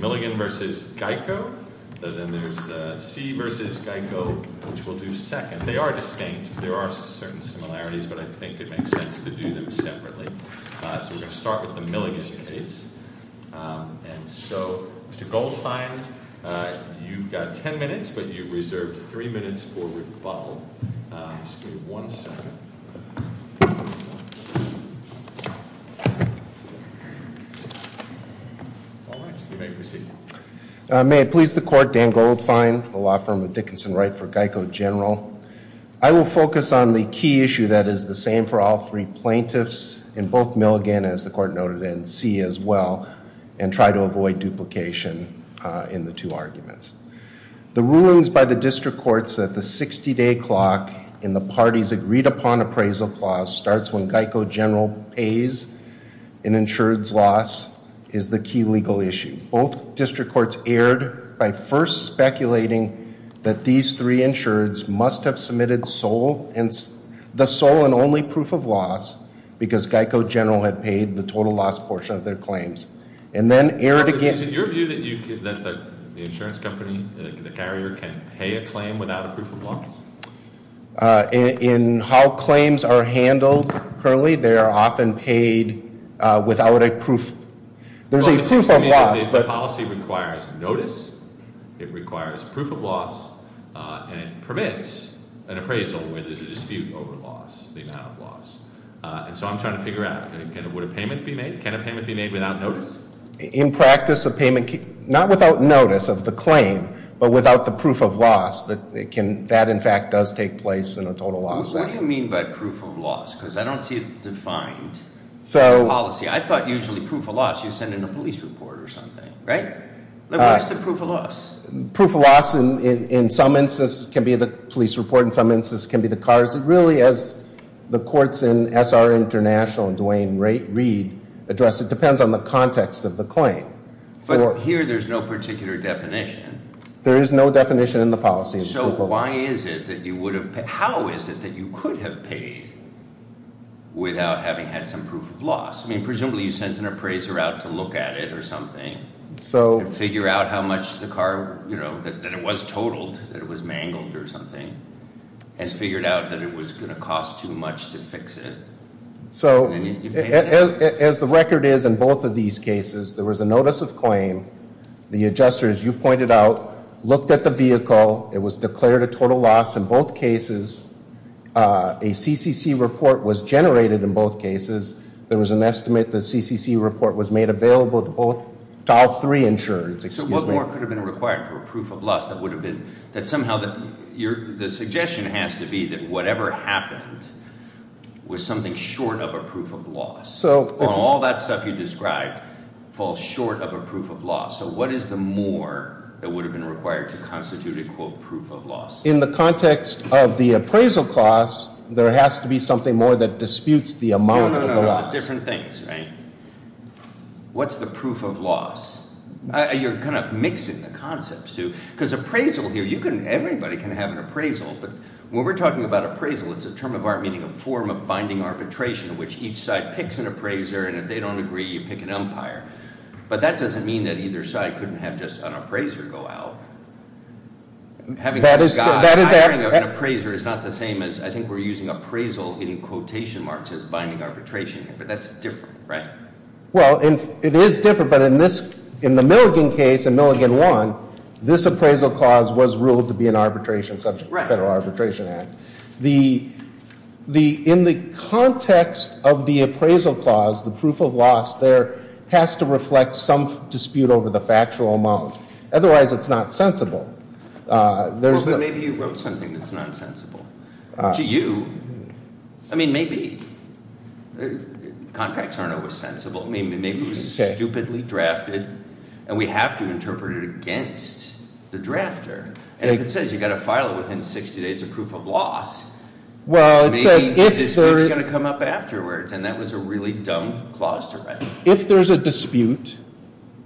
Milligan v. Geico C. v. Geico Mr. Goldfein, you've got 10 minutes, but you've reserved 3 minutes for rebuttal. One second. May it please the court, Dan Goldfein, the law firm of Dickinson Wright v. Geico General. I will focus on the key issue that is the same for all three plaintiffs in both Milligan, as the court noted, and C. as well, and try to avoid duplication in the two arguments. The rulings by the district courts that the 60-day clock in the parties agreed upon appraisal clause starts when Geico General pays an insured's loss is the key legal issue. Both district courts erred by first speculating that these three insureds must have submitted the sole and only proof of loss because Geico General had paid the total loss portion of their claims. Is it your view that the insurance company, the carrier, can pay a claim without a proof of loss? In how claims are handled currently, they are often paid without a proof. The policy requires notice, it requires proof of loss, and it permits an appraisal where there's a dispute over loss, the amount of loss. And so I'm trying to figure out, would a payment be made? Can a payment be made without notice? In practice, a payment, not without notice of the claim, but without the proof of loss, that in fact does take place in a total loss. What do you mean by proof of loss? Because I don't see it defined in the policy. I thought usually proof of loss you send in a police report or something, right? What is the proof of loss? Proof of loss in some instances can be the police report, in some instances can be the cars. It really, as the courts in SR International and Dwayne Reed address, it depends on the context of the claim. But here there's no particular definition. There is no definition in the policy of proof of loss. So why is it that you would have paid? How is it that you could have paid without having had some proof of loss? I mean, presumably you sent an appraiser out to look at it or something and figure out how much the car, that it was totaled, that it was mangled or something, and figured out that it was going to cost too much to fix it. So as the record is in both of these cases, there was a notice of claim. The adjuster, as you pointed out, looked at the vehicle. It was declared a total loss in both cases. A CCC report was generated in both cases. There was an estimate the CCC report was made available to all three insurers. So what more could have been required for a proof of loss that would have been, that somehow, the suggestion has to be that whatever happened was something short of a proof of loss. All that stuff you described falls short of a proof of loss. So what is the more that would have been required to constitute a, quote, proof of loss? In the context of the appraisal clause, there has to be something more that disputes the amount of the loss. No, no, no, different things, right? What's the proof of loss? You're kind of mixing the concepts, too, because appraisal here, you can, everybody can have an appraisal, but when we're talking about appraisal, it's a term of art meaning a form of binding arbitration in which each side picks an appraiser, and if they don't agree, you pick an umpire. But that doesn't mean that either side couldn't have just an appraiser go out. Having an appraiser is not the same as, I think we're using appraisal in quotation marks as binding arbitration, but that's different, right? Well, it is different, but in the Milligan case, in Milligan 1, this appraisal clause was ruled to be an arbitration subject in the Federal Arbitration Act. In the context of the appraisal clause, the proof of loss there has to reflect some dispute over the factual amount. Otherwise, it's not sensible. Well, but maybe you wrote something that's not sensible. To you, I mean, maybe. Contracts aren't always sensible. I mean, maybe it was stupidly drafted, and we have to interpret it against the drafter. And if it says you've got to file it within 60 days of proof of loss, maybe the dispute's going to come up afterwards, and that was a really dumb clause to write. If there's a dispute,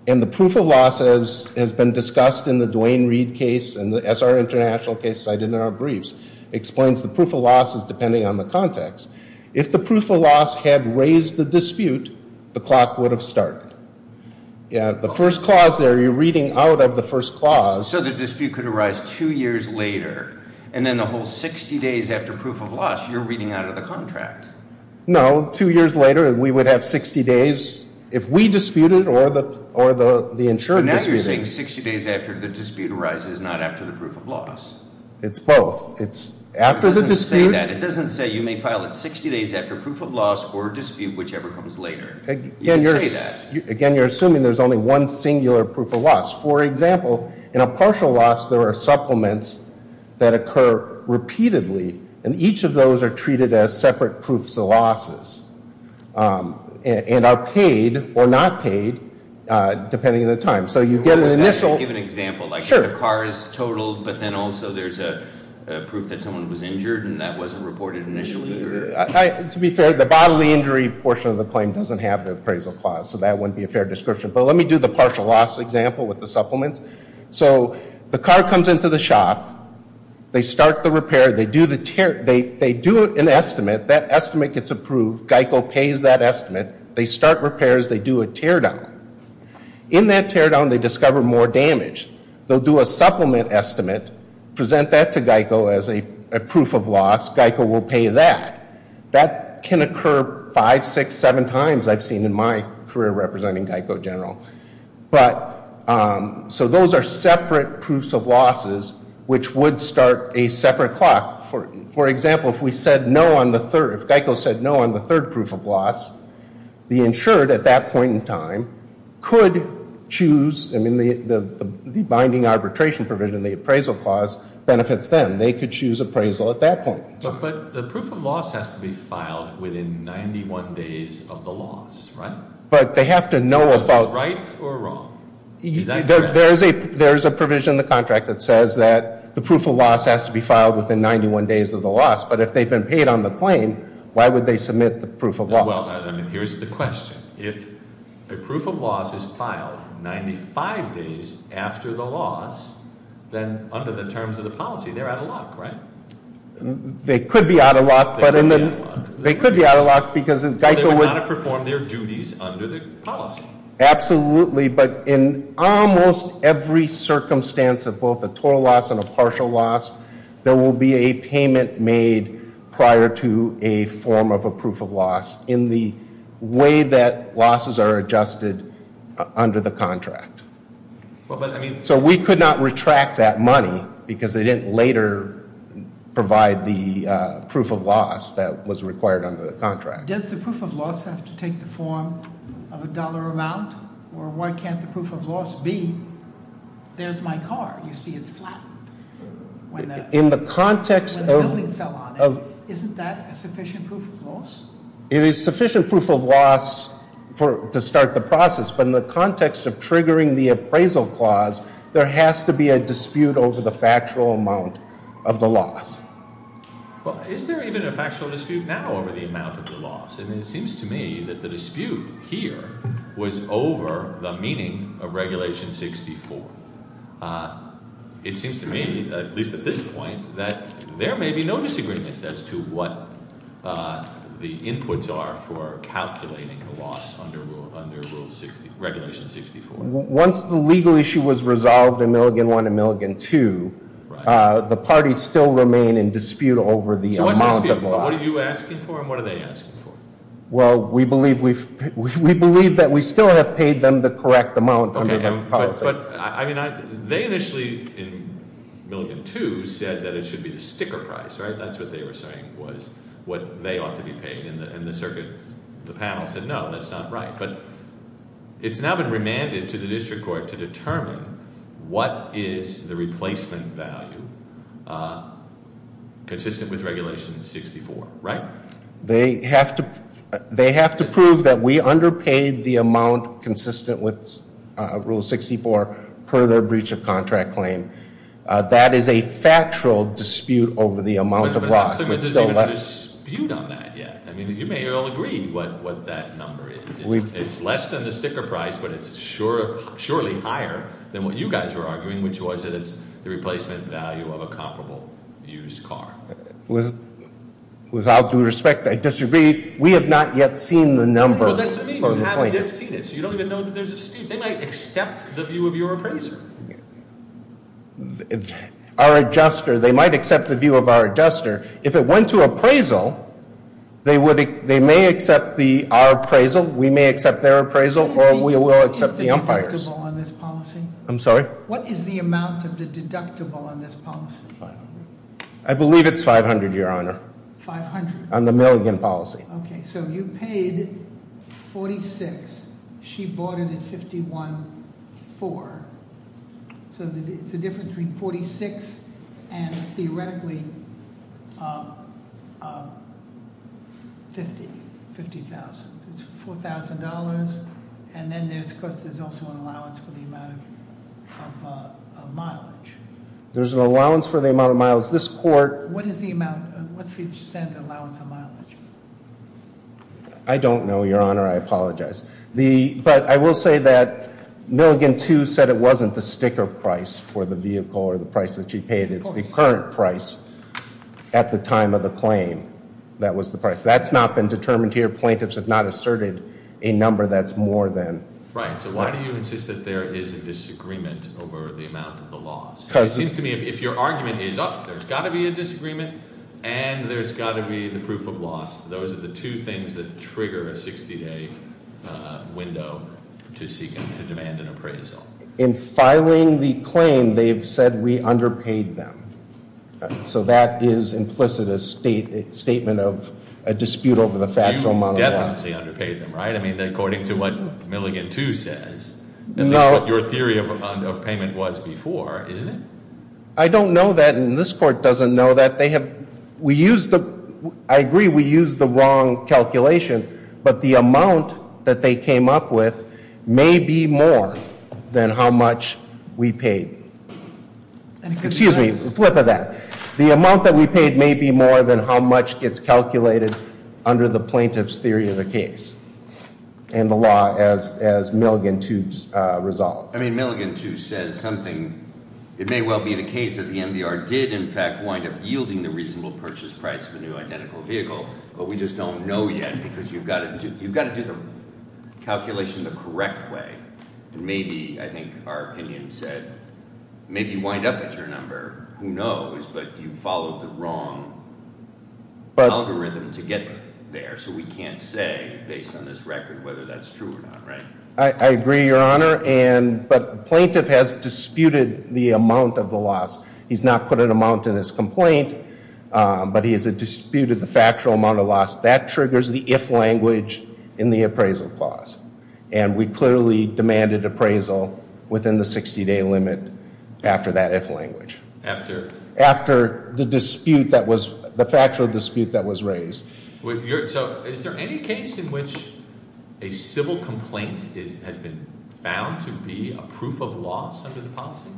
and the proof of loss has been discussed in the Duane Reade case and the SR International case cited in our briefs explains the proof of loss is depending on the context. If the proof of loss had raised the dispute, the clock would have started. The first clause there, you're reading out of the first clause. So the dispute could arise two years later, and then the whole 60 days after proof of loss, you're reading out of the contract. No, two years later, we would have 60 days if we disputed or the insured disputed. So now you're saying 60 days after the dispute arises, not after the proof of loss. It's both. It's after the dispute. It doesn't say that. It doesn't say you may file it 60 days after proof of loss or dispute, whichever comes later. You can say that. Again, you're assuming there's only one singular proof of loss. For example, in a partial loss, there are supplements that occur repeatedly, and each of those are treated as separate proofs of losses and are paid or not paid depending on the time. So you get an initial- Can I give an example? Sure. Like the car is totaled, but then also there's a proof that someone was injured and that wasn't reported initially? To be fair, the bodily injury portion of the claim doesn't have the appraisal clause, so that wouldn't be a fair description. But let me do the partial loss example with the supplements. So the car comes into the shop. They start the repair. They do an estimate. That estimate gets approved. GEICO pays that estimate. They start repairs. They do a teardown. In that teardown, they discover more damage. They'll do a supplement estimate, present that to GEICO as a proof of loss. GEICO will pay that. That can occur five, six, seven times, I've seen in my career representing GEICO General. So those are separate proofs of losses, which would start a separate clock. For example, if GEICO said no on the third proof of loss, the insured at that point in time could choose. I mean, the binding arbitration provision, the appraisal clause, benefits them. They could choose appraisal at that point. But the proof of loss has to be filed within 91 days of the loss, right? But they have to know about- Is that right or wrong? There's a provision in the contract that says that the proof of loss has to be filed within 91 days of the loss. But if they've been paid on the claim, why would they submit the proof of loss? Well, I mean, here's the question. If a proof of loss is filed 95 days after the loss, then under the terms of the policy, they're out of luck, right? They could be out of luck, but in the- They could be out of luck. They could be out of luck because GEICO would- They're going to have to perform their duties under the policy. Absolutely, but in almost every circumstance of both a total loss and a partial loss, there will be a payment made prior to a form of a proof of loss in the way that losses are adjusted under the contract. So we could not retract that money because they didn't later provide the proof of loss that was required under the contract. Does the proof of loss have to take the form of a dollar amount? Or why can't the proof of loss be, there's my car. You see it's flat. In the context of- When the building fell on it, isn't that a sufficient proof of loss? It is sufficient proof of loss to start the process, but in the context of triggering the appraisal clause, there has to be a dispute over the factual amount of the loss. Well, is there even a factual dispute now over the amount of the loss? And it seems to me that the dispute here was over the meaning of Regulation 64. It seems to me, at least at this point, that there may be no disagreement as to what the inputs are for calculating a loss under Regulation 64. Once the legal issue was resolved in Milligan 1 and Milligan 2, the parties still remain in dispute over the amount of loss. So what are you asking for and what are they asking for? Well, we believe that we still have paid them the correct amount under the policy. Okay, but they initially, in Milligan 2, said that it should be the sticker price, right? That's what they were saying was what they ought to be paying. And the panel said, no, that's not right. But it's now been remanded to the district court to determine what is the replacement value consistent with Regulation 64, right? They have to prove that we underpaid the amount consistent with Rule 64 per their breach of contract claim. That is a factual dispute over the amount of loss. I don't think there's even a dispute on that yet. I mean, you may all agree what that number is. It's less than the sticker price, but it's surely higher than what you guys were arguing, which was that it's the replacement value of a comparable used car. Without due respect, I disagree. We have not yet seen the number. No, that's what I mean. You haven't yet seen it, so you don't even know that there's a dispute. They might accept the view of your appraiser. Our adjuster, they might accept the view of our adjuster. If it went to appraisal, they may accept our appraisal. We may accept their appraisal, or we will accept the umpire's. Is the deductible on this policy? I'm sorry? What is the amount of the deductible on this policy? 500. I believe it's 500, Your Honor. 500? On the million policy. Okay, so you paid 46. She bought it at 51.4. So it's a difference between 46 and theoretically 50, 50,000. It's $4,000, and then there's also an allowance for the amount of mileage. What's the extent allowance on mileage? I don't know, Your Honor. I apologize. But I will say that Milligan, too, said it wasn't the sticker price for the vehicle or the price that she paid. It's the current price at the time of the claim that was the price. That's not been determined here. Plaintiffs have not asserted a number that's more than. Right, so why do you insist that there is a disagreement over the amount of the loss? It seems to me if your argument is up, there's got to be a disagreement, and there's got to be the proof of loss. Those are the two things that trigger a 60-day window to demand an appraisal. In filing the claim, they've said we underpaid them. So that is implicit, a statement of a dispute over the factual amount of the loss. You definitely underpaid them, right? I mean, according to what Milligan, too, says. No. That's what your theory of payment was before, isn't it? I don't know that, and this court doesn't know that. I agree we used the wrong calculation, but the amount that they came up with may be more than how much we paid. And the law, as Milligan, too, resolved. I mean, Milligan, too, says something. It may well be the case that the MVR did, in fact, wind up yielding the reasonable purchase price of a new identical vehicle. But we just don't know yet because you've got to do the calculation the correct way. And maybe, I think our opinion said, maybe you wind up at your number. Who knows? But you followed the wrong algorithm to get there. So we can't say, based on this record, whether that's true or not, right? I agree, Your Honor. But the plaintiff has disputed the amount of the loss. He's not put an amount in his complaint, but he has disputed the factual amount of loss. That triggers the if language in the appraisal clause. And we clearly demanded appraisal within the 60-day limit after that if language. After? After the dispute that was, the factual dispute that was raised. So is there any case in which a civil complaint has been found to be a proof of loss under the policy?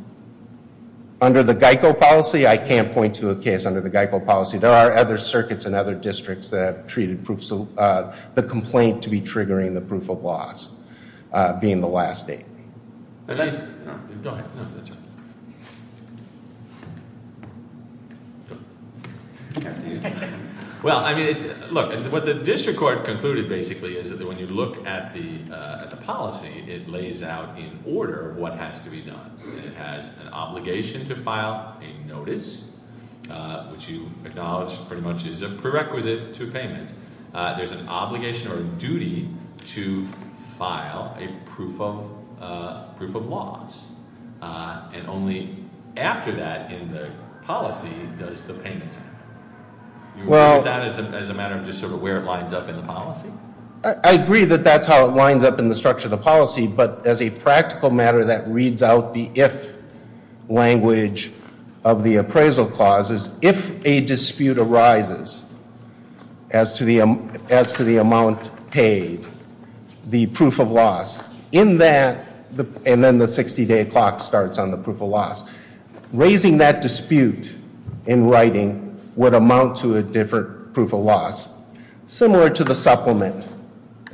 Under the GEICO policy? I can't point to a case under the GEICO policy. There are other circuits and other districts that have treated the complaint to be triggering the proof of loss being the last date. Go ahead. Well, I mean, look, what the district court concluded basically is that when you look at the policy, it lays out in order what has to be done. It has an obligation to file a notice, which you acknowledge pretty much is a prerequisite to a payment. There's an obligation or a duty to file a proof of loss. And only after that in the policy does the payment happen. Well- Do you agree with that as a matter of just sort of where it lines up in the policy? I agree that that's how it lines up in the structure of the policy. But as a practical matter, that reads out the if language of the appraisal clauses. If a dispute arises as to the amount paid, the proof of loss in that, and then the 60-day clock starts on the proof of loss. Raising that dispute in writing would amount to a different proof of loss, similar to the supplement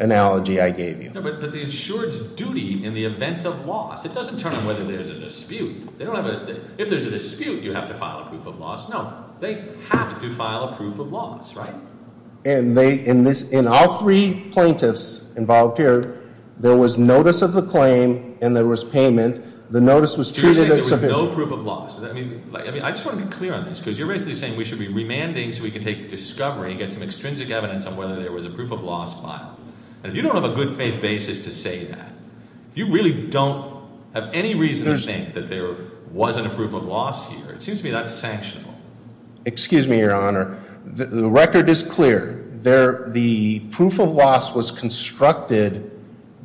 analogy I gave you. No, but the insured's duty in the event of loss. It doesn't turn on whether there's a dispute. They don't have a – if there's a dispute, you have to file a proof of loss. No, they have to file a proof of loss, right? And they – in this – in all three plaintiffs involved here, there was notice of the claim and there was payment. The notice was treated as sufficient. You're saying there was no proof of loss. I mean, I just want to be clear on this because you're basically saying we should be remanding so we can take discovery and get some extrinsic evidence on whether there was a proof of loss file. And if you don't have a good faith basis to say that, if you really don't have any reason to think that there wasn't a proof of loss here, it seems to me that's sanctionable. Excuse me, Your Honor. The record is clear. There – the proof of loss was constructed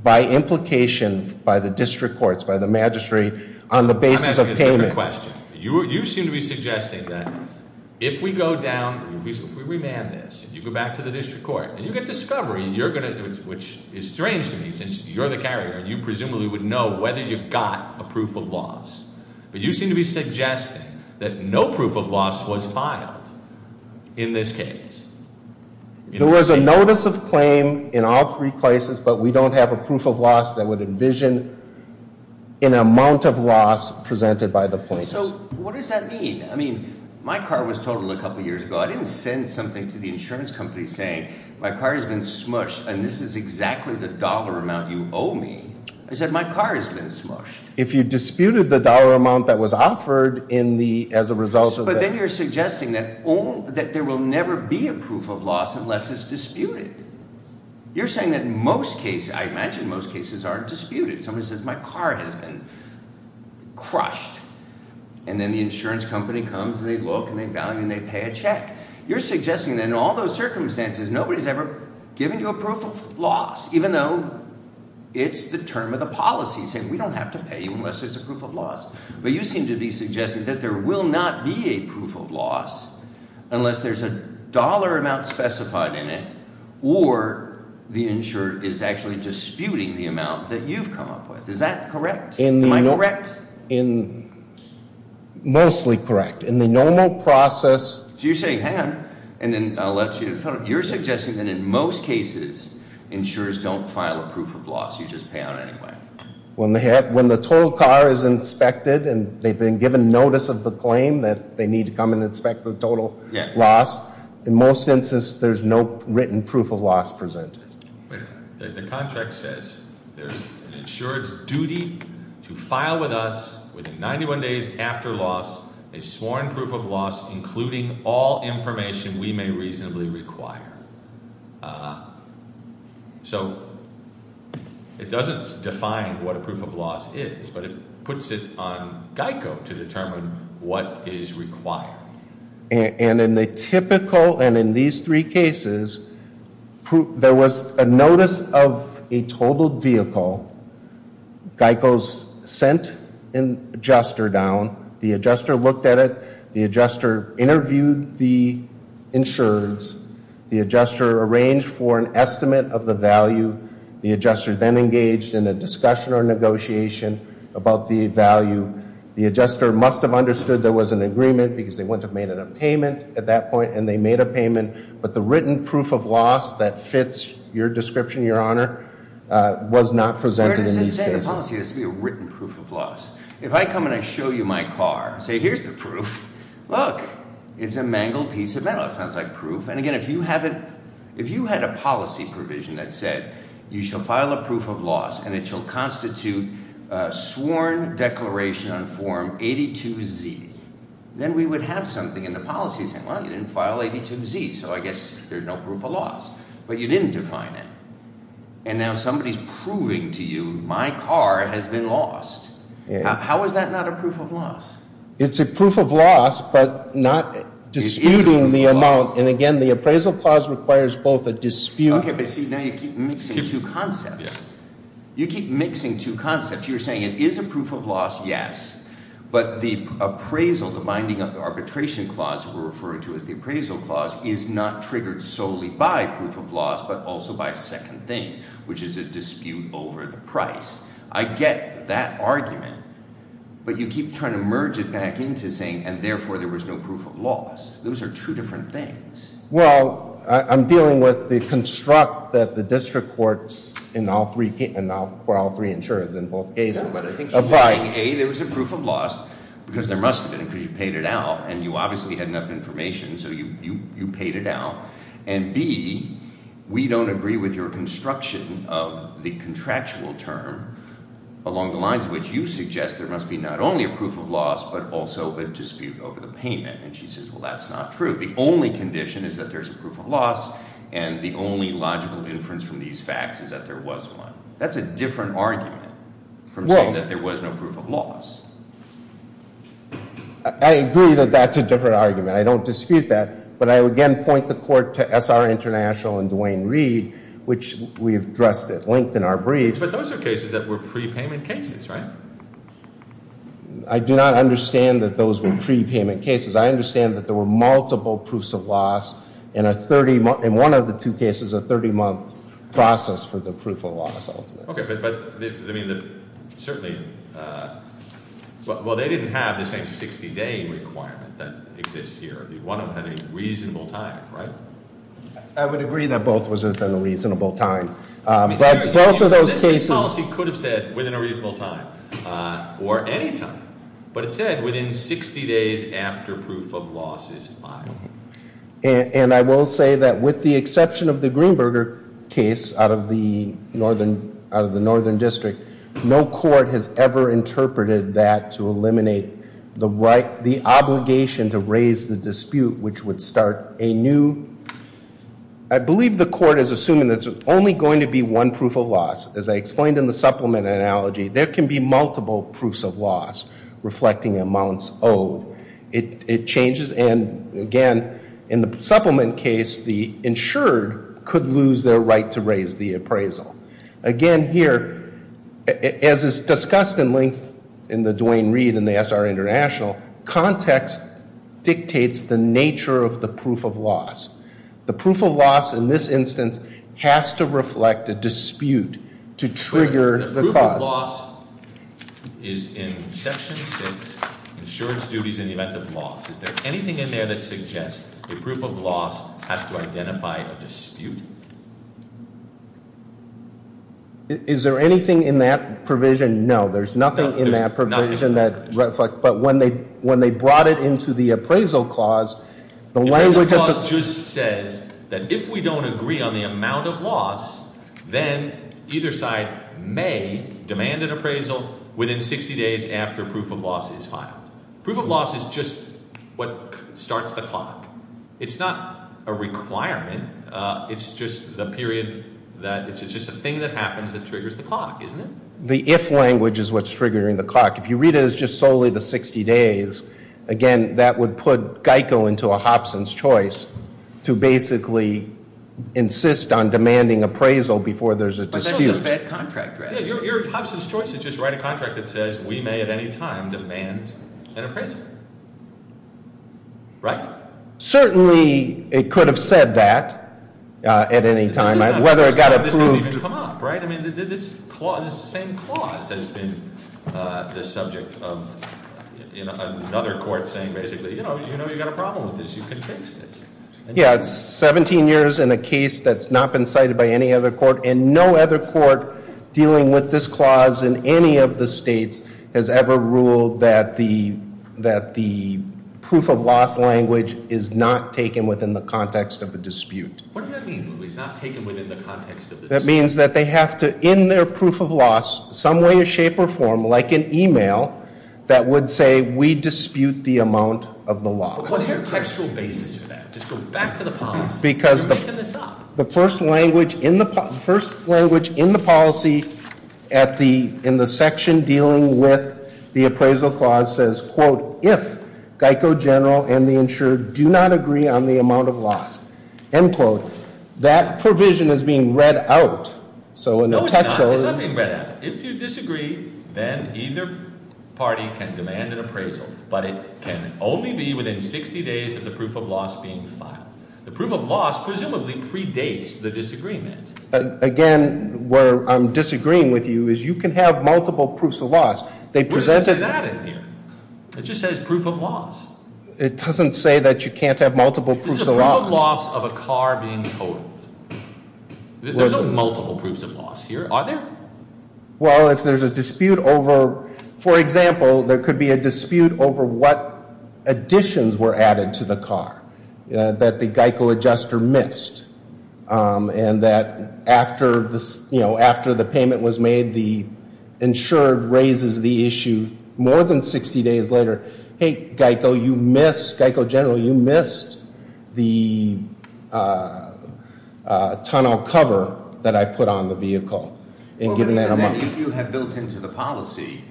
by implication by the district courts, by the magistrate, on the basis of payment. I'm asking a different question. You seem to be suggesting that if we go down – if we remand this and you go back to the district court and you get discovery, you're going to – which is strange to me since you're the carrier. You presumably would know whether you got a proof of loss. But you seem to be suggesting that no proof of loss was filed in this case. There was a notice of claim in all three places, but we don't have a proof of loss that would envision an amount of loss presented by the plaintiffs. So what does that mean? I mean my car was totaled a couple years ago. I didn't send something to the insurance company saying my car has been smushed and this is exactly the dollar amount you owe me. I said my car has been smushed. If you disputed the dollar amount that was offered in the – as a result of that. But then you're suggesting that there will never be a proof of loss unless it's disputed. You're saying that most cases – I imagine most cases aren't disputed. Somebody says my car has been crushed. And then the insurance company comes and they look and they evaluate and they pay a check. You're suggesting that in all those circumstances nobody's ever given you a proof of loss even though it's the term of the policy saying we don't have to pay you unless there's a proof of loss. But you seem to be suggesting that there will not be a proof of loss unless there's a dollar amount specified in it or the insurer is actually disputing the amount that you've come up with. Is that correct? Am I correct? Mostly correct. In the normal process – So you're saying – hang on. And then I'll let you – you're suggesting that in most cases insurers don't file a proof of loss. You just pay out anyway. When the total car is inspected and they've been given notice of the claim that they need to come and inspect the total loss, in most instances there's no written proof of loss presented. The contract says there's an insurer's duty to file with us within 91 days after loss a sworn proof of loss including all information we may reasonably require. So it doesn't define what a proof of loss is, but it puts it on GEICO to determine what is required. And in the typical – and in these three cases, there was a notice of a totaled vehicle. GEICO sent an adjuster down. The adjuster looked at it. The adjuster interviewed the insurers. The adjuster arranged for an estimate of the value. The adjuster then engaged in a discussion or negotiation about the value. The adjuster must have understood there was an agreement because they wouldn't have made it a payment at that point, and they made a payment. But the written proof of loss that fits your description, Your Honor, was not presented in these cases. Where does it say the policy has to be a written proof of loss? If I come and I show you my car and say, here's the proof, look, it's a mangled piece of metal. It sounds like proof. If you had a policy provision that said you shall file a proof of loss and it shall constitute a sworn declaration on form 82Z, then we would have something in the policy saying, well, you didn't file 82Z, so I guess there's no proof of loss. But you didn't define it. And now somebody is proving to you my car has been lost. How is that not a proof of loss? It's a proof of loss, but not disputing the amount. And again, the appraisal clause requires both a dispute. OK, but see, now you keep mixing two concepts. You keep mixing two concepts. You're saying it is a proof of loss, yes. But the appraisal, the binding arbitration clause we're referring to as the appraisal clause, is not triggered solely by proof of loss, but also by a second thing, which is a dispute over the price. I get that argument. But you keep trying to merge it back into saying, and therefore there was no proof of loss. Those are two different things. Well, I'm dealing with the construct that the district courts for all three insurers in both cases apply. Yes, but I think she's saying, A, there was a proof of loss, because there must have been, because you paid it out. And you obviously had enough information, so you paid it out. And B, we don't agree with your construction of the contractual term, along the lines of which you suggest there must be not only a proof of loss, but also a dispute over the payment. And she says, well, that's not true. The only condition is that there's a proof of loss, and the only logical inference from these facts is that there was one. That's a different argument from saying that there was no proof of loss. I agree that that's a different argument. I don't dispute that. But I, again, point the court to SR International and Duane Reed, which we've addressed at length in our briefs. But those are cases that were prepayment cases, right? I do not understand that those were prepayment cases. I understand that there were multiple proofs of loss in one of the two cases, a 30-month process for the proof of loss. Okay, but certainly, well, they didn't have the same 60-day requirement that exists here. One of them had a reasonable time, right? I would agree that both was within a reasonable time. But both of those cases- Within a reasonable time or any time. But it said within 60 days after proof of loss is filed. And I will say that with the exception of the Greenberger case out of the northern district, no court has ever interpreted that to eliminate the obligation to raise the dispute, which would start a new- I believe the court is assuming that there's only going to be one proof of loss. As I explained in the supplement analogy, there can be multiple proofs of loss reflecting amounts owed. It changes, and again, in the supplement case, the insured could lose their right to raise the appraisal. Again, here, as is discussed in length in the Duane Reed and the SR International, context dictates the nature of the proof of loss. The proof of loss in this instance has to reflect a dispute to trigger the clause. The proof of loss is in section 6, insurance duties in the event of loss. Is there anything in there that suggests the proof of loss has to identify a dispute? Is there anything in that provision? No, there's nothing in that provision that reflects- The clause just says that if we don't agree on the amount of loss, then either side may demand an appraisal within 60 days after proof of loss is filed. Proof of loss is just what starts the clock. It's not a requirement. It's just the period that-it's just a thing that happens that triggers the clock, isn't it? The if language is what's triggering the clock. If you read it as just solely the 60 days, again, that would put GEICO into a Hobson's Choice to basically insist on demanding appraisal before there's a dispute. But that's just a bad contract, right? Yeah, your Hobson's Choice is just write a contract that says we may at any time demand an appraisal, right? Certainly, it could have said that at any time. Whether it got approved- It's the same clause that has been the subject of another court saying basically, you know, you've got a problem with this, you can fix this. Yeah, it's 17 years in a case that's not been cited by any other court, and no other court dealing with this clause in any of the states has ever ruled that the proof of loss language is not taken within the context of a dispute. What does that mean when it's not taken within the context of a dispute? That means that they have to, in their proof of loss, some way, shape, or form, like an e-mail, that would say we dispute the amount of the loss. What is your textual basis for that? Just go back to the past. Because the first language in the policy in the section dealing with the appraisal clause says, quote, if GEICO General and the insurer do not agree on the amount of loss, end quote. That provision is being read out. No, it's not being read out. If you disagree, then either party can demand an appraisal, but it can only be within 60 days of the proof of loss being filed. The proof of loss presumably predates the disagreement. Again, where I'm disagreeing with you is you can have multiple proofs of loss. Where does it say that in here? It just says proof of loss. It doesn't say that you can't have multiple proofs of loss. There's no proof of loss of a car being totaled. There's no multiple proofs of loss here, are there? Well, if there's a dispute over, for example, there could be a dispute over what additions were added to the car that the GEICO adjuster missed, and that after the payment was made, the insurer raises the issue more than 60 days later, hey, GEICO general, you missed the tunnel cover that I put on the vehicle, and given that amount. If you have built into the policy,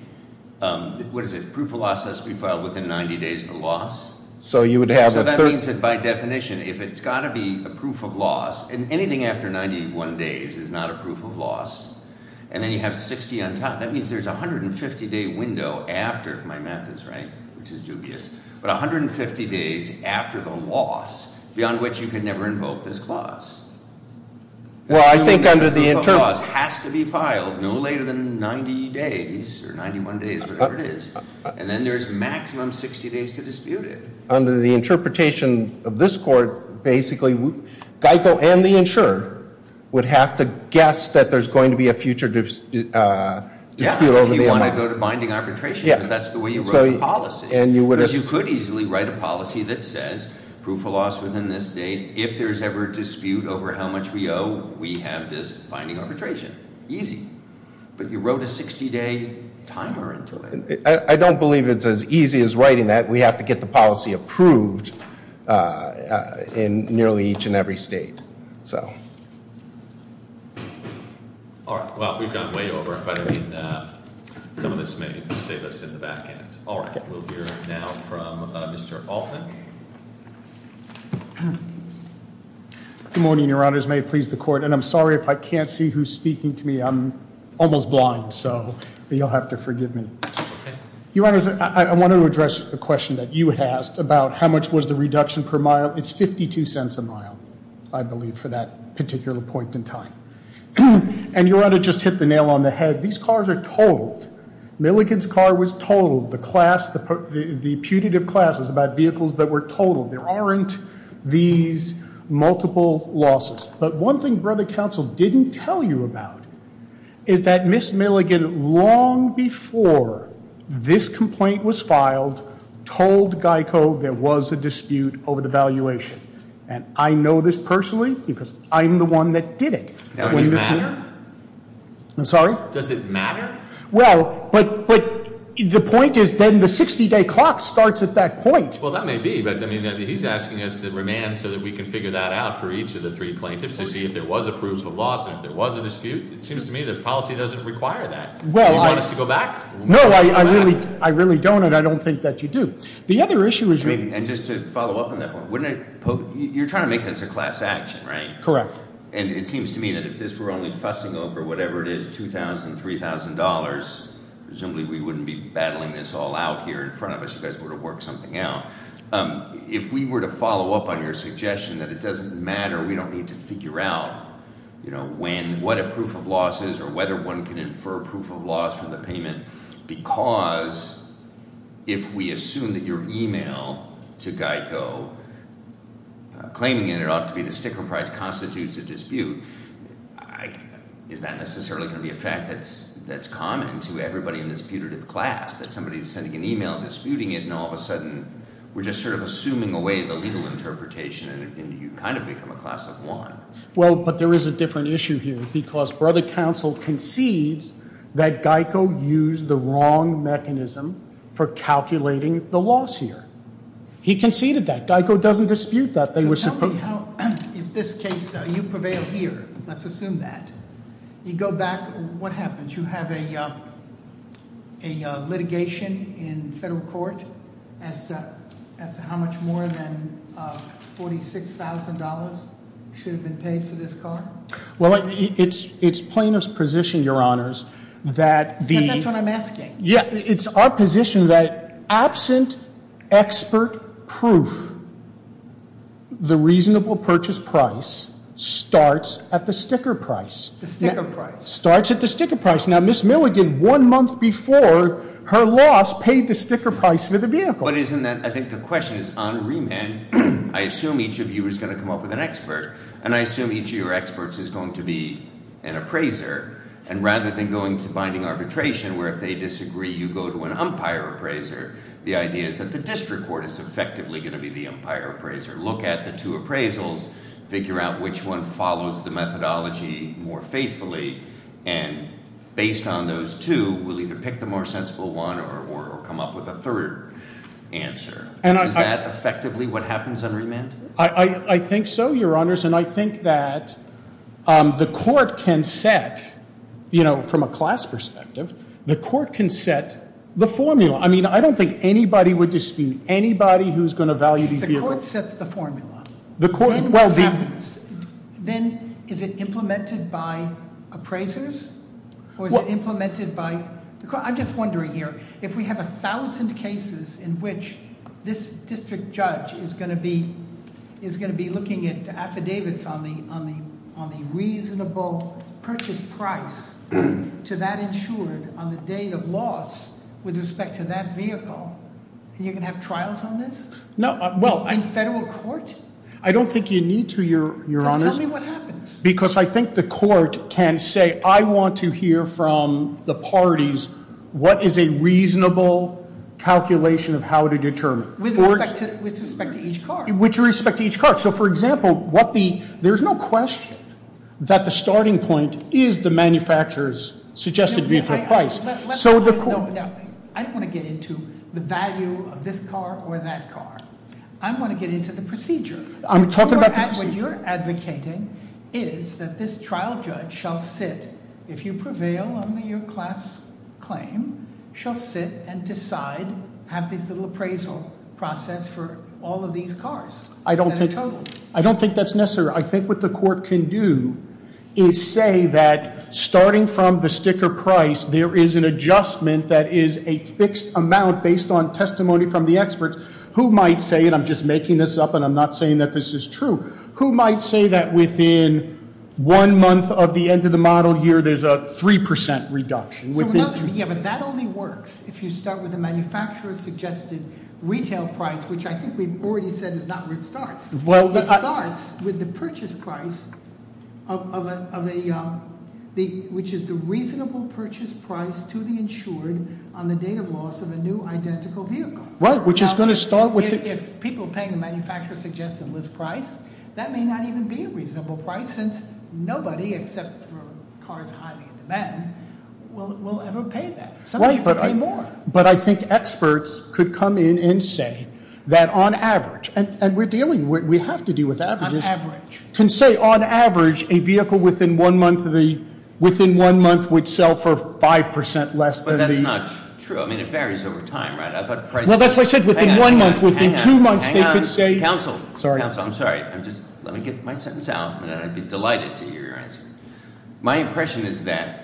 what is it? Proof of loss has to be filed within 90 days of the loss. So you would have a third? So that means that by definition, if it's got to be a proof of loss, and anything after 91 days is not a proof of loss, and then you have 60 on top, that means there's a 150-day window after, if my math is right, which is dubious, but 150 days after the loss, beyond which you can never invoke this clause. Well, I think under the inter- The proof of loss has to be filed no later than 90 days or 91 days, whatever it is, and then there's maximum 60 days to dispute it. Under the interpretation of this court, basically, GEICO and the insurer would have to guess that there's going to be a future dispute over the amount. Yeah, if you want to go to binding arbitration, because that's the way you wrote the policy. Because you could easily write a policy that says proof of loss within this date. If there's ever a dispute over how much we owe, we have this binding arbitration. Easy. But you wrote a 60-day timer into it. I don't believe it's as easy as writing that. We have to get the policy approved in nearly each and every state. Well, we've gone way over. By the way, some of this may save us in the back end. We'll hear now from Mr. Alton. Good morning, Your Honors. May it please the Court. And I'm sorry if I can't see who's speaking to me. I'm almost blind, so you'll have to forgive me. Your Honors, I want to address a question that you had asked about how much was the reduction per mile. It's $0.52 a mile, I believe, for that particular point in time. And Your Honor just hit the nail on the head. These cars are totaled. Milligan's car was totaled. The putative class was about vehicles that were totaled. There aren't these multiple losses. But one thing Brother Counsel didn't tell you about is that Ms. Milligan, long before this complaint was filed, told GEICO there was a dispute over the valuation. And I know this personally because I'm the one that did it. Does it matter? I'm sorry? Does it matter? Well, but the point is then the 60-day clock starts at that point. Well, that may be. But he's asking us to remand so that we can figure that out for each of the three plaintiffs to see if there was a proof of loss, and if there was a dispute. It seems to me that policy doesn't require that. Do you want us to go back? No, I really don't, and I don't think that you do. The other issue is you're trying to make this a class action, right? Correct. And it seems to me that if this were only fussing over whatever it is, $2,000, $3,000, presumably we wouldn't be battling this all out here in front of us. You guys would have worked something out. If we were to follow up on your suggestion that it doesn't matter, we don't need to figure out when, what a proof of loss is or whether one can infer proof of loss from the payment, because if we assume that your email to GEICO claiming it ought to be the sticker price constitutes a dispute, is that necessarily going to be a fact that's common to everybody in a disputative class, that somebody is sending an email disputing it, and all of a sudden we're just sort of assuming away the legal interpretation, and you kind of become a class of one. Well, but there is a different issue here, because Brother Counsel concedes that GEICO used the wrong mechanism for calculating the loss here. He conceded that. GEICO doesn't dispute that. So tell me how, if this case, you prevail here, let's assume that. You go back, what happens? You have a litigation in federal court as to how much more than $46,000 should have been paid for this car? Well, it's plaintiff's position, Your Honors, that the- That's what I'm asking. Yeah, it's our position that absent expert proof, the reasonable purchase price starts at the sticker price. The sticker price. Starts at the sticker price. Now, Ms. Milligan, one month before her loss, paid the sticker price for the vehicle. But isn't that, I think the question is, on remand, I assume each of you is going to come up with an expert, and I assume each of your experts is going to be an appraiser, and rather than going to binding arbitration, where if they disagree, you go to an umpire appraiser, the idea is that the district court is effectively going to be the umpire appraiser. Look at the two appraisals, figure out which one follows the methodology more faithfully, and based on those two, we'll either pick the more sensible one or come up with a third answer. Is that effectively what happens on remand? I think so, your honors, and I think that the court can set, from a class perspective, the court can set the formula. I mean, I don't think anybody would dispute anybody who's going to value these vehicles. The court sets the formula. The court, well- Then what happens? Then is it implemented by appraisers? Or is it implemented by, I'm just wondering here, if we have 1,000 cases in which this district judge is going to be looking at affidavits on the reasonable purchase price to that insured on the date of loss with respect to that vehicle, you're going to have trials on this? In federal court? I don't think you need to, your honors. Then tell me what happens. Because I think the court can say, I want to hear from the parties, what is a reasonable calculation of how to determine? With respect to each car. With respect to each car. So, for example, there's no question that the starting point is the manufacturer's suggested vehicle price. I don't want to get into the value of this car or that car. I want to get into the procedure. I'm talking about the procedure. What you're advocating is that this trial judge shall sit. If you prevail, only your class claim shall sit and decide, have this little appraisal process for all of these cars. I don't think that's necessary. I think what the court can do is say that starting from the sticker price, there is an adjustment that is a fixed amount based on testimony from the experts. Who might say, and I'm just making this up, and I'm not saying that this is true. Who might say that within one month of the end of the model year, there's a 3% reduction? Yeah, but that only works if you start with the manufacturer's suggested retail price, which I think we've already said is not where it starts. It starts with the purchase price, which is the reasonable purchase price to the insured on the date of loss of a new identical vehicle. Right, which is going to start with- If people paying the manufacturer's suggested list price, that may not even be a reasonable price, since nobody except for cars highly in demand will ever pay that. Some people pay more. But I think experts could come in and say that on average, and we're dealing, we have to deal with averages. On average. Can say on average, a vehicle within one month would sell for 5% less than the- But that's not true. I mean, it varies over time, right? Well, that's what I said. Within one month, within two months, they could say- Hang on. Counsel. Sorry. Counsel, I'm sorry. Let me get my sentence out, and I'd be delighted to hear your answer. My impression is that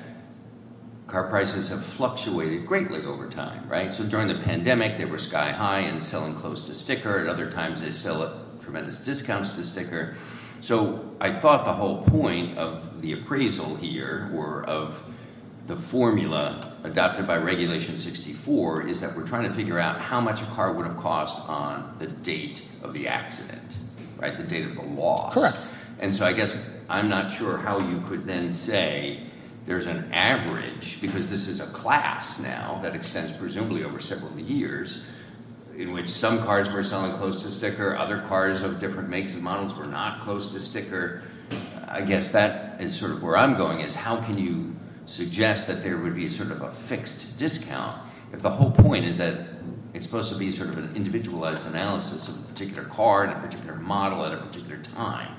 car prices have fluctuated greatly over time, right? So during the pandemic, they were sky high and selling close to sticker. At other times, they sell at tremendous discounts to sticker. So I thought the whole point of the appraisal here or of the formula adopted by Regulation 64 is that we're trying to figure out how much a car would have cost on the date of the accident, right? The date of the loss. Correct. And so I guess I'm not sure how you could then say there's an average, because this is a class now that extends presumably over several years, in which some cars were selling close to sticker, other cars of different makes and models were not close to sticker. I guess that is sort of where I'm going, is how can you suggest that there would be sort of a fixed discount if the whole point is that it's supposed to be sort of an individualized analysis of a particular car and a particular model at a particular time?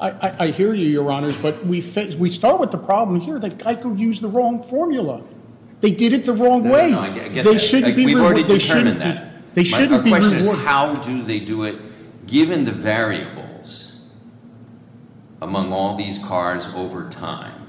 I hear you, Your Honors, but we start with the problem here that I could use the wrong formula. They did it the wrong way. I get that. They shouldn't be rewarded. Our question is how do they do it? Given the variables among all these cars over time,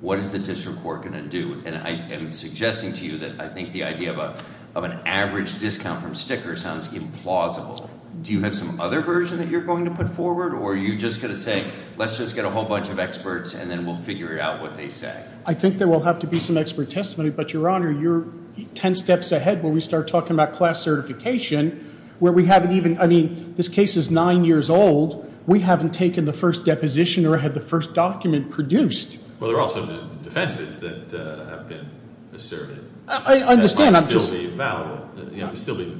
what is the district court going to do? And I am suggesting to you that I think the idea of an average discount from sticker sounds implausible. Do you have some other version that you're going to put forward, or are you just going to say let's just get a whole bunch of experts and then we'll figure out what they say? I think there will have to be some expert testimony. But, Your Honor, you're ten steps ahead when we start talking about class certification where we haven't even – I mean, this case is nine years old. We haven't taken the first deposition or had the first document produced. Well, there are also defenses that have been asserted. I understand. That might still be valid. It might still be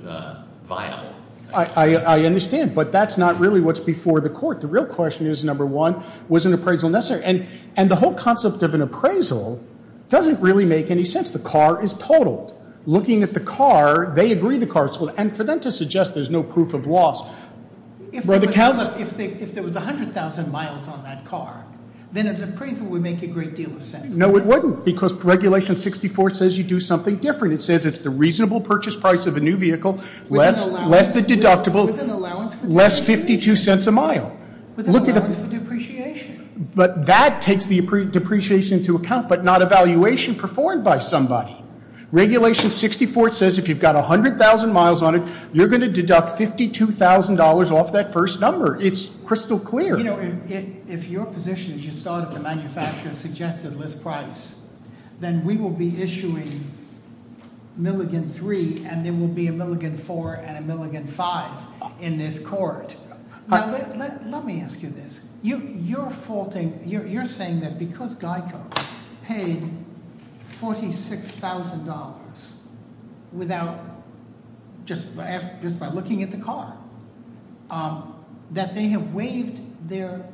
viable. I understand, but that's not really what's before the court. The real question is, number one, was an appraisal necessary? And the whole concept of an appraisal doesn't really make any sense. The car is totaled. Looking at the car, they agree the car is totaled. And for them to suggest there's no proof of loss – If there was 100,000 miles on that car, then an appraisal would make a great deal of sense. No, it wouldn't, because Regulation 64 says you do something different. It says it's the reasonable purchase price of a new vehicle less the deductible – With an allowance for depreciation. Less $0.52 a mile. With an allowance for depreciation. But that takes the depreciation into account, but not a valuation performed by somebody. Regulation 64 says if you've got 100,000 miles on it, you're going to deduct $52,000 off that first number. It's crystal clear. You know, if your position is you start at the manufacturer's suggested list price, then we will be issuing Milligan 3, and there will be a Milligan 4 and a Milligan 5 in this court. Let me ask you this. You're faulting – you're saying that because GEICO paid $46,000 without – just by looking at the car, that they have waived their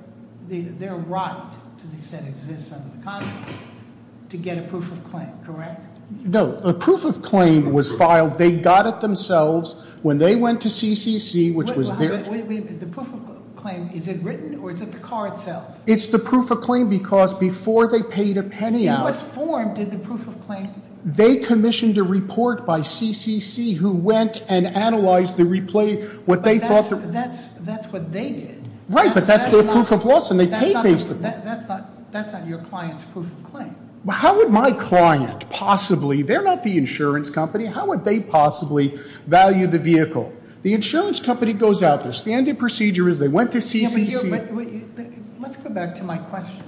right to the extent it exists under the contract to get a proof of claim, correct? No. A proof of claim was filed. They got it themselves when they went to CCC, which was their – Wait, wait, wait. The proof of claim, is it written, or is it the car itself? It's the proof of claim because before they paid a penny out – In what form did the proof of claim – They commissioned a report by CCC who went and analyzed the – But that's what they did. Right, but that's their proof of loss, and they paid basically. That's not your client's proof of claim. How would my client possibly – they're not the insurance company. How would they possibly value the vehicle? The insurance company goes out, their standard procedure is they went to CCC – Let's go back to my question.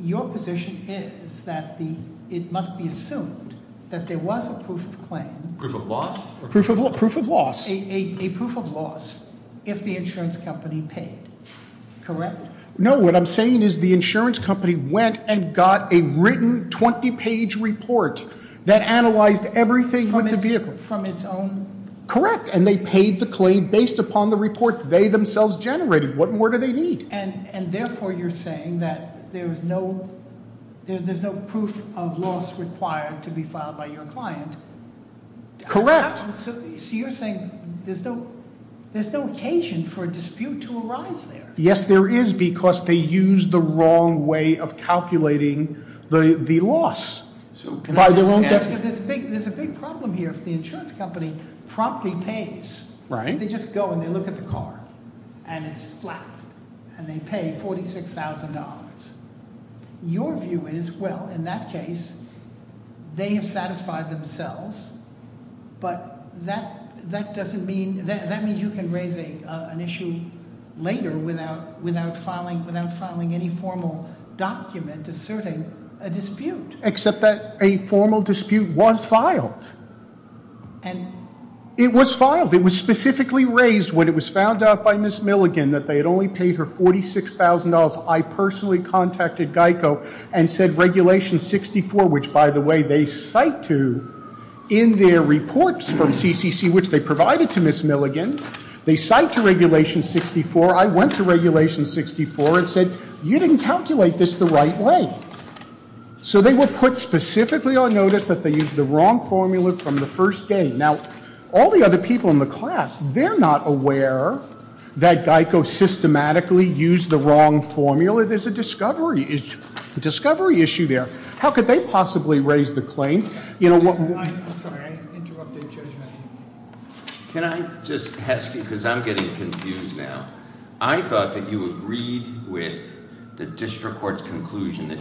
Your position is that it must be assumed that there was a proof of claim – Proof of loss? Proof of loss. A proof of loss if the insurance company paid, correct? No. What I'm saying is the insurance company went and got a written 20-page report that analyzed everything with the vehicle. Correct, and they paid the claim based upon the report they themselves generated. What more do they need? And therefore you're saying that there's no proof of loss required to be filed by your client. Correct. So you're saying there's no occasion for a dispute to arise there. Yes, there is because they used the wrong way of calculating the loss. There's a big problem here if the insurance company promptly pays. Right. They just go and they look at the car, and it's flat, and they pay $46,000. Your view is, well, in that case, they have satisfied themselves, but that doesn't mean – that means you can raise an issue later without filing any formal document asserting a dispute. Except that a formal dispute was filed. And it was filed. It was specifically raised when it was found out by Ms. Milligan that they had only paid her $46,000. I personally contacted GEICO and said Regulation 64, which, by the way, they cite to in their reports from CCC, which they provided to Ms. Milligan, they cite to Regulation 64. I went to Regulation 64 and said, you didn't calculate this the right way. So they were put specifically on notice that they used the wrong formula from the first day. Now, all the other people in the class, they're not aware that GEICO systematically used the wrong formula. There's a discovery issue there. How could they possibly raise the claim? You know what – I'm sorry. I interrupted judgment. Can I just ask you, because I'm getting confused now. I thought that you agreed with the district court's conclusion that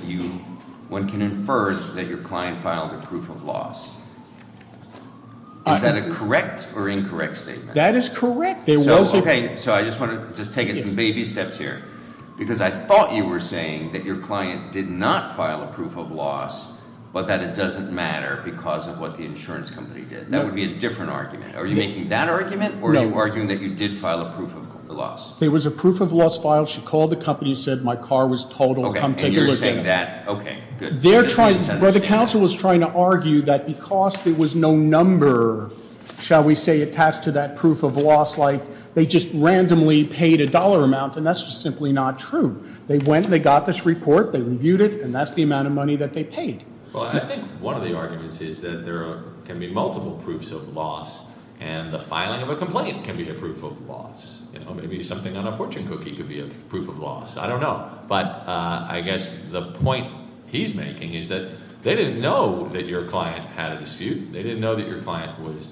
one can infer that your client filed a proof of loss. Is that a correct or incorrect statement? That is correct. So I just want to take it in baby steps here, because I thought you were saying that your client did not file a proof of loss, but that it doesn't matter because of what the insurance company did. That would be a different argument. Are you making that argument? No. Are you arguing that you did file a proof of loss? There was a proof of loss filed. She called the company and said, my car was totaled. Come take a look at it. Okay, and you're saying that. Okay, good. They're trying – Well, the counsel was trying to argue that because there was no number, shall we say, attached to that proof of loss, like they just randomly paid a dollar amount, and that's just simply not true. They went and they got this report. They reviewed it, and that's the amount of money that they paid. Well, I think one of the arguments is that there can be multiple proofs of loss, and the filing of a complaint can be a proof of loss. Maybe something on a fortune cookie could be a proof of loss. I don't know. But I guess the point he's making is that they didn't know that your client had a dispute. They didn't know that your client was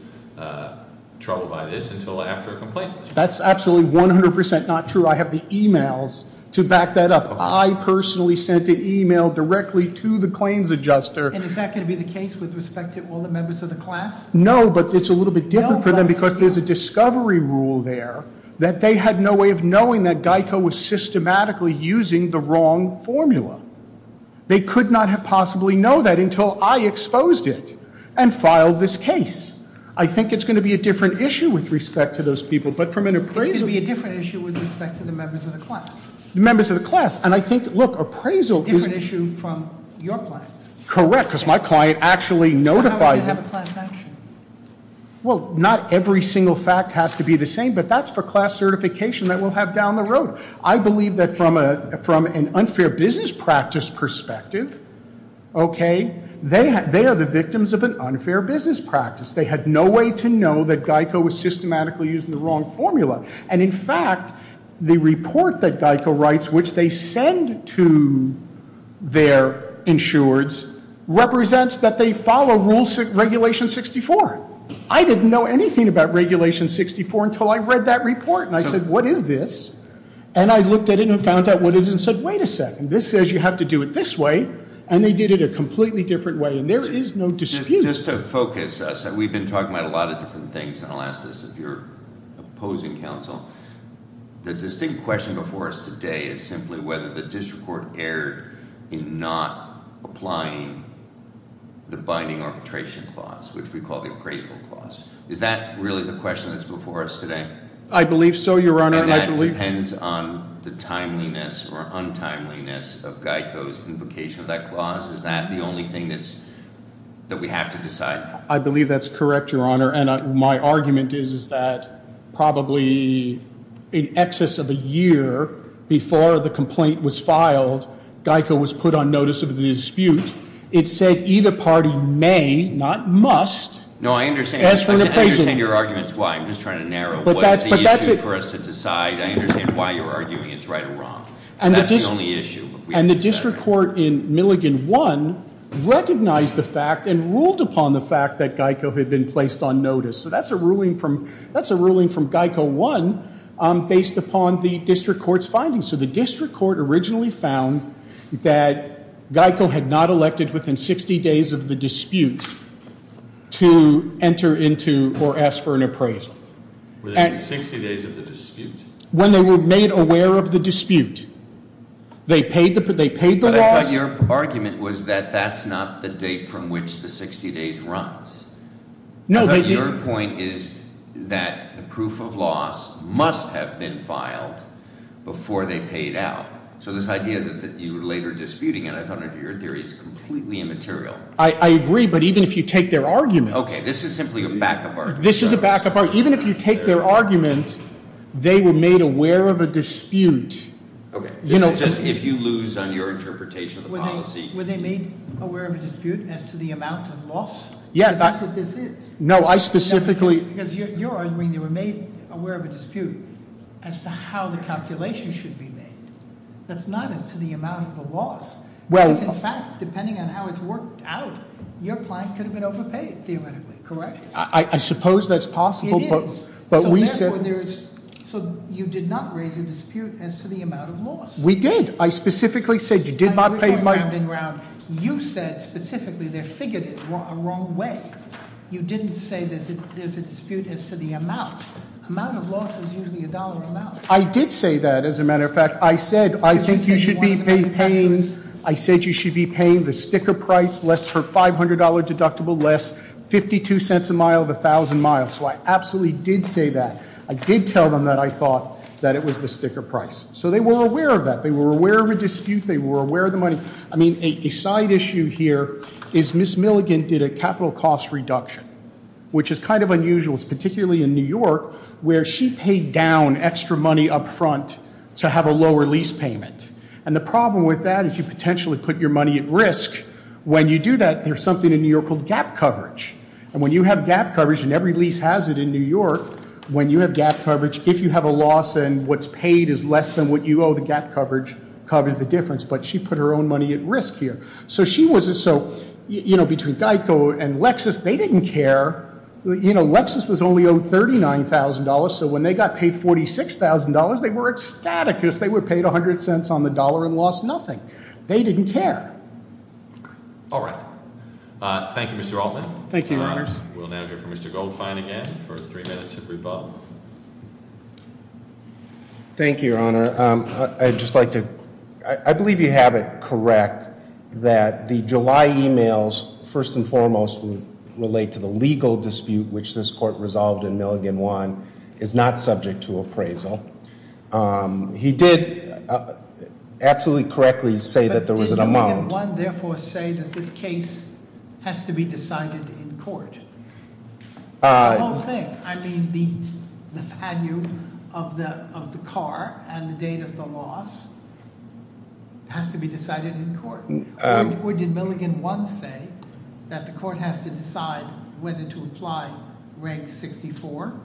troubled by this until after a complaint was filed. That's absolutely 100% not true. I have the emails to back that up. I personally sent an email directly to the claims adjuster. And is that going to be the case with respect to all the members of the class? No, but it's a little bit different for them because there's a discovery rule there that they had no way of knowing that GEICO was systematically using the wrong formula. They could not have possibly known that until I exposed it and filed this case. I think it's going to be a different issue with respect to those people, but from an appraisal – It's going to be a different issue with respect to the members of the class. The members of the class. And I think, look, appraisal is – It's an issue from your clients. Correct, because my client actually notified him. So how would you have a class action? Well, not every single fact has to be the same, but that's for class certification that we'll have down the road. I believe that from an unfair business practice perspective, okay, they are the victims of an unfair business practice. They had no way to know that GEICO was systematically using the wrong formula. And, in fact, the report that GEICO writes, which they send to their insureds, represents that they follow regulation 64. I didn't know anything about regulation 64 until I read that report, and I said, what is this? And I looked at it and found out what it is and said, wait a second, this says you have to do it this way. And they did it a completely different way, and there is no dispute. Just to focus, we've been talking about a lot of different things, and I'll ask this of your opposing counsel. The distinct question before us today is simply whether the district court erred in not applying the binding arbitration clause, which we call the appraisal clause. Is that really the question that's before us today? I believe so, Your Honor. And that depends on the timeliness or untimeliness of GEICO's invocation of that clause? Is that the only thing that we have to decide? I believe that's correct, Your Honor. And my argument is that probably in excess of a year before the complaint was filed, GEICO was put on notice of the dispute. It said either party may, not must, ask for an appraisal. No, I understand. I understand your arguments why. I'm just trying to narrow. What is the issue for us to decide? I understand why you're arguing it's right or wrong. That's the only issue. And the district court in Milligan 1 recognized the fact and ruled upon the fact that GEICO had been placed on notice. So that's a ruling from GEICO 1 based upon the district court's findings. So the district court originally found that GEICO had not elected within 60 days of the dispute to enter into or ask for an appraisal. Within 60 days of the dispute? When they were made aware of the dispute. They paid the loss. But I thought your argument was that that's not the date from which the 60 days runs. No, they didn't. I thought your point is that the proof of loss must have been filed before they paid out. So this idea that you were later disputing it, I thought your theory is completely immaterial. I agree, but even if you take their argument. Okay, this is simply a backup argument. This is a backup argument. Even if you take their argument, they were made aware of a dispute. Okay, this is just if you lose on your interpretation of the policy. Were they made aware of a dispute as to the amount of loss? Yeah. Is that what this is? No, I specifically. Because you're arguing they were made aware of a dispute as to how the calculation should be made. That's not as to the amount of the loss. Because in fact, depending on how it's worked out, your client could have been overpaid, theoretically, correct? I suppose that's possible. It is. So therefore, you did not raise a dispute as to the amount of loss. We did. I specifically said you did not pay. You said specifically they figured it the wrong way. You didn't say there's a dispute as to the amount. The amount of loss is usually a dollar amount. I did say that, as a matter of fact. I said I think you should be paying. I said you should be paying the sticker price, less for $500 deductible, less 52 cents a mile of 1,000 miles. So I absolutely did say that. I did tell them that I thought that it was the sticker price. So they were aware of that. They were aware of a dispute. They were aware of the money. I mean, a side issue here is Ms. Milligan did a capital cost reduction, which is kind of unusual. It's particularly in New York where she paid down extra money up front to have a lower lease payment. And the problem with that is you potentially put your money at risk. When you do that, there's something in New York called gap coverage. And when you have gap coverage, and every lease has it in New York, when you have gap coverage, if you have a loss and what's paid is less than what you owe, the gap coverage covers the difference. But she put her own money at risk here. So she wasn't so, you know, between GEICO and Lexus, they didn't care. You know, Lexus was only owed $39,000. So when they got paid $46,000, they were ecstatic because they were paid 100 cents on the dollar and lost nothing. They didn't care. All right. Thank you, Mr. Altman. Thank you, Your Honors. We'll now hear from Mr. Goldfein again for three minutes of rebuttal. Thank you, Your Honor. I'd just like to, I believe you have it correct that the July emails, first and foremost, would relate to the legal dispute which this court resolved in Milligan 1 is not subject to appraisal. He did absolutely correctly say that there was an amount. Did Milligan 1, therefore, say that this case has to be decided in court? The whole thing. I mean, the value of the car and the date of the loss has to be decided in court. Or did Milligan 1 say that the court has to decide whether to apply Reg 64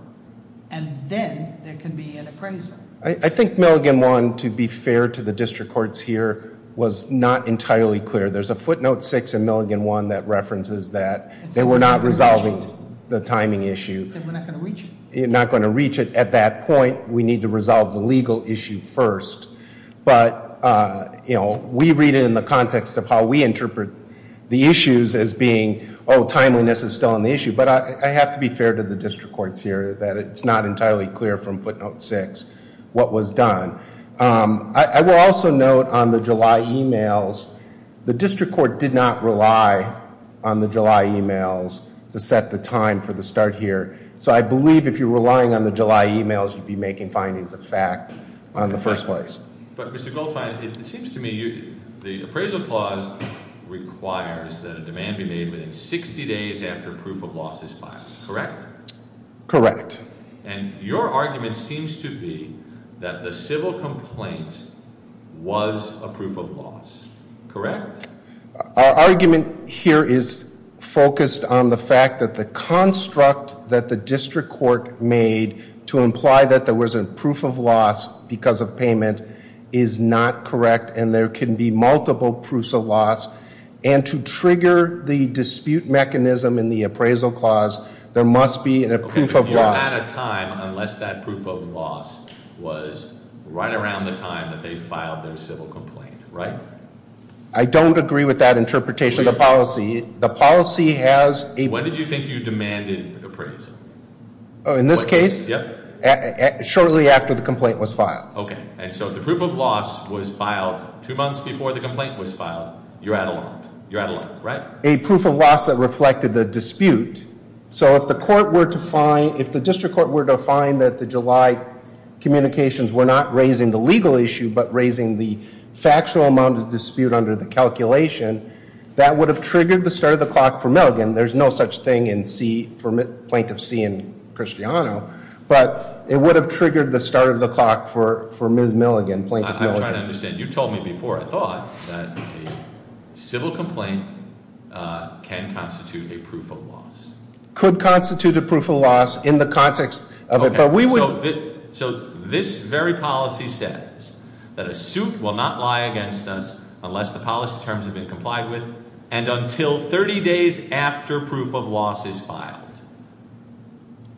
and then there can be an appraisal? I think Milligan 1, to be fair to the district courts here, was not entirely clear. There's a footnote 6 in Milligan 1 that references that they were not resolving the timing issue. He said we're not going to reach it. Not going to reach it. At that point, we need to resolve the legal issue first. But we read it in the context of how we interpret the issues as being, oh, timeliness is still an issue. But I have to be fair to the district courts here that it's not entirely clear from footnote 6 what was done. I will also note on the July emails, the district court did not rely on the July emails to set the time for the start here. So I believe if you're relying on the July emails, you'd be making findings of fact on the first place. But Mr. Goldfein, it seems to me the appraisal clause requires that a demand be made within 60 days after proof of loss is filed. Correct? Correct. And your argument seems to be that the civil complaint was a proof of loss. Correct? Our argument here is focused on the fact that the construct that the district court made to imply that there was a proof of loss because of payment is not correct. And there can be multiple proofs of loss. And to trigger the dispute mechanism in the appraisal clause, there must be a proof of loss. You're out of time unless that proof of loss was right around the time that they filed their civil complaint. Right? I don't agree with that interpretation of the policy. The policy has a- When did you think you demanded appraisal? In this case? Yep. Shortly after the complaint was filed. Okay. And so the proof of loss was filed two months before the complaint was filed. You're out of luck. You're out of luck. Right? A proof of loss that reflected the dispute. So if the court were to find, if the district court were to find that the July communications were not raising the legal issue but raising the factual amount of dispute under the calculation, that would have triggered the start of the clock for Milligan. There's no such thing in C, for Plaintiff C and Christiano. But it would have triggered the start of the clock for Ms. Milligan, Plaintiff Milligan. I'm trying to understand. You told me before, I thought, that a civil complaint can constitute a proof of loss. Could constitute a proof of loss in the context of a- Okay. So this very policy says that a suit will not lie against us unless the policy terms have been complied with and until 30 days after proof of loss is filed.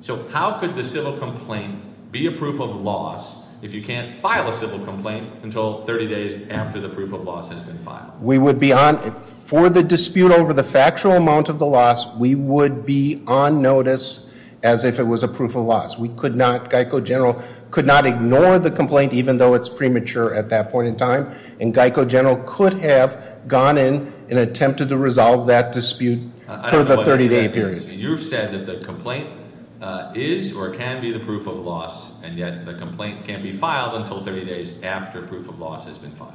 So how could the civil complaint be a proof of loss if you can't file a civil complaint until 30 days after the proof of loss has been filed? We would be on, for the dispute over the factual amount of the loss, we would be on notice as if it was a proof of loss. We could not, Geico General could not ignore the complaint even though it's premature at that point in time. And Geico General could have gone in and attempted to resolve that dispute for the 30 day period. Okay, so you've said that the complaint is or can be the proof of loss and yet the complaint can't be filed until 30 days after proof of loss has been filed.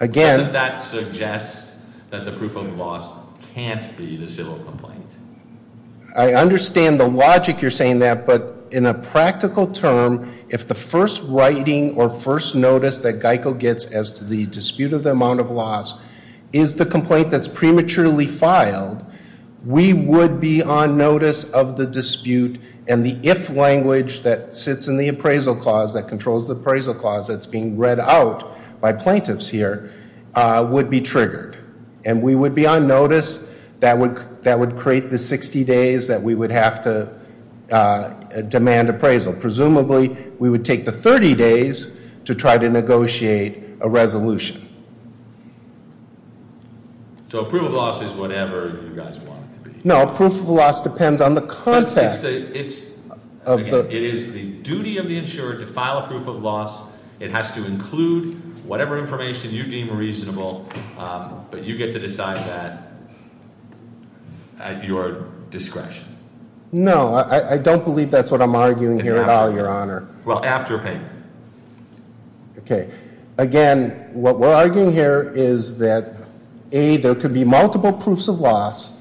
Again- Doesn't that suggest that the proof of loss can't be the civil complaint? I understand the logic you're saying that, but in a practical term, if the first writing or first notice that Geico gets as to the dispute of the amount of loss is the complaint that's prematurely filed, we would be on notice of the dispute and the if language that sits in the appraisal clause that controls the appraisal clause that's being read out by plaintiffs here would be triggered. And we would be on notice that would create the 60 days that we would have to demand appraisal. Presumably, we would take the 30 days to try to negotiate a resolution. So a proof of loss is whatever you guys want it to be. No, a proof of loss depends on the context. It is the duty of the insured to file a proof of loss. It has to include whatever information you deem reasonable, but you get to decide that at your discretion. No, I don't believe that's what I'm arguing here at all, Your Honor. Well, after payment. Okay. Again, what we're arguing here is that, A, there could be multiple proofs of loss.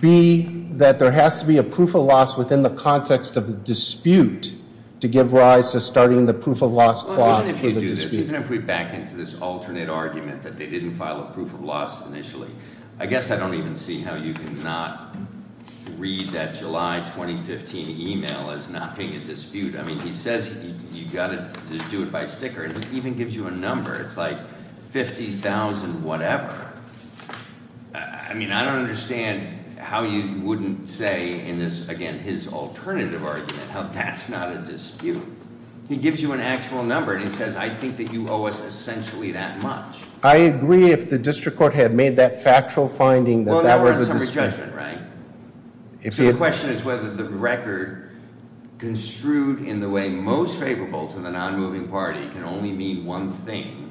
B, that there has to be a proof of loss within the context of the dispute to give rise to starting the proof of loss clause. Even if you do this, even if we back into this alternate argument that they didn't file a proof of loss initially. I guess I don't even see how you can not read that July 2015 email as not paying a dispute. I mean, he says you've got to do it by sticker, and he even gives you a number. It's like 50,000 whatever. I mean, I don't understand how you wouldn't say in this, again, his alternative argument how that's not a dispute. He gives you an actual number, and he says, I think that you owe us essentially that much. I agree if the district court had made that factual finding that that was a dispute. Well, now we're on summary judgment, right? So the question is whether the record construed in the way most favorable to the non-moving party can only mean one thing.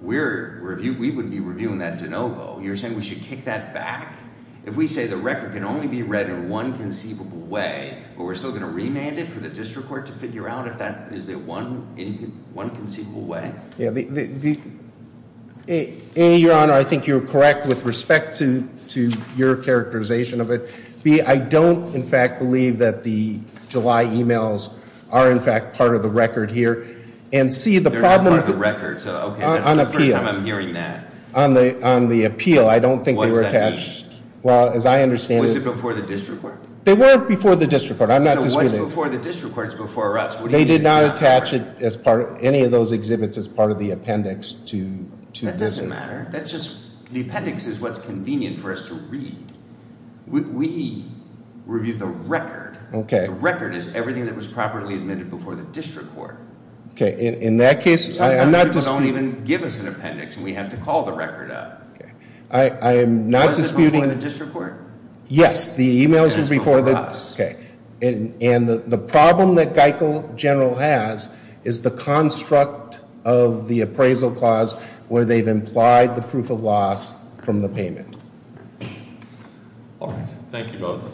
We would be reviewing that de novo. You're saying we should kick that back? If we say the record can only be read in one conceivable way, but we're still going to remand it for the district court to figure out if that is the one conceivable way? A, your honor, I think you're correct with respect to your characterization of it. B, I don't, in fact, believe that the July emails are, in fact, part of the record here. And C, the problem- They're not part of the record, so okay. That's the first time I'm hearing that. On the appeal, I don't think they were attached. What does that mean? Well, as I understand it- Was it before the district court? They were before the district court. I'm not disputing- So what's before the district court is before us. They did not attach any of those exhibits as part of the appendix to this. That doesn't matter. That's just, the appendix is what's convenient for us to read. We reviewed the record. Okay. The record is everything that was properly admitted before the district court. Okay, in that case, I am not disputing- Some people don't even give us an appendix, and we have to call the record up. Okay. I am not disputing- Was it before the district court? Yes, the emails were before the- It was before us. Okay. The problem that Geichel General has is the construct of the appraisal clause where they've implied the proof of loss from the payment. All right. Thank you both.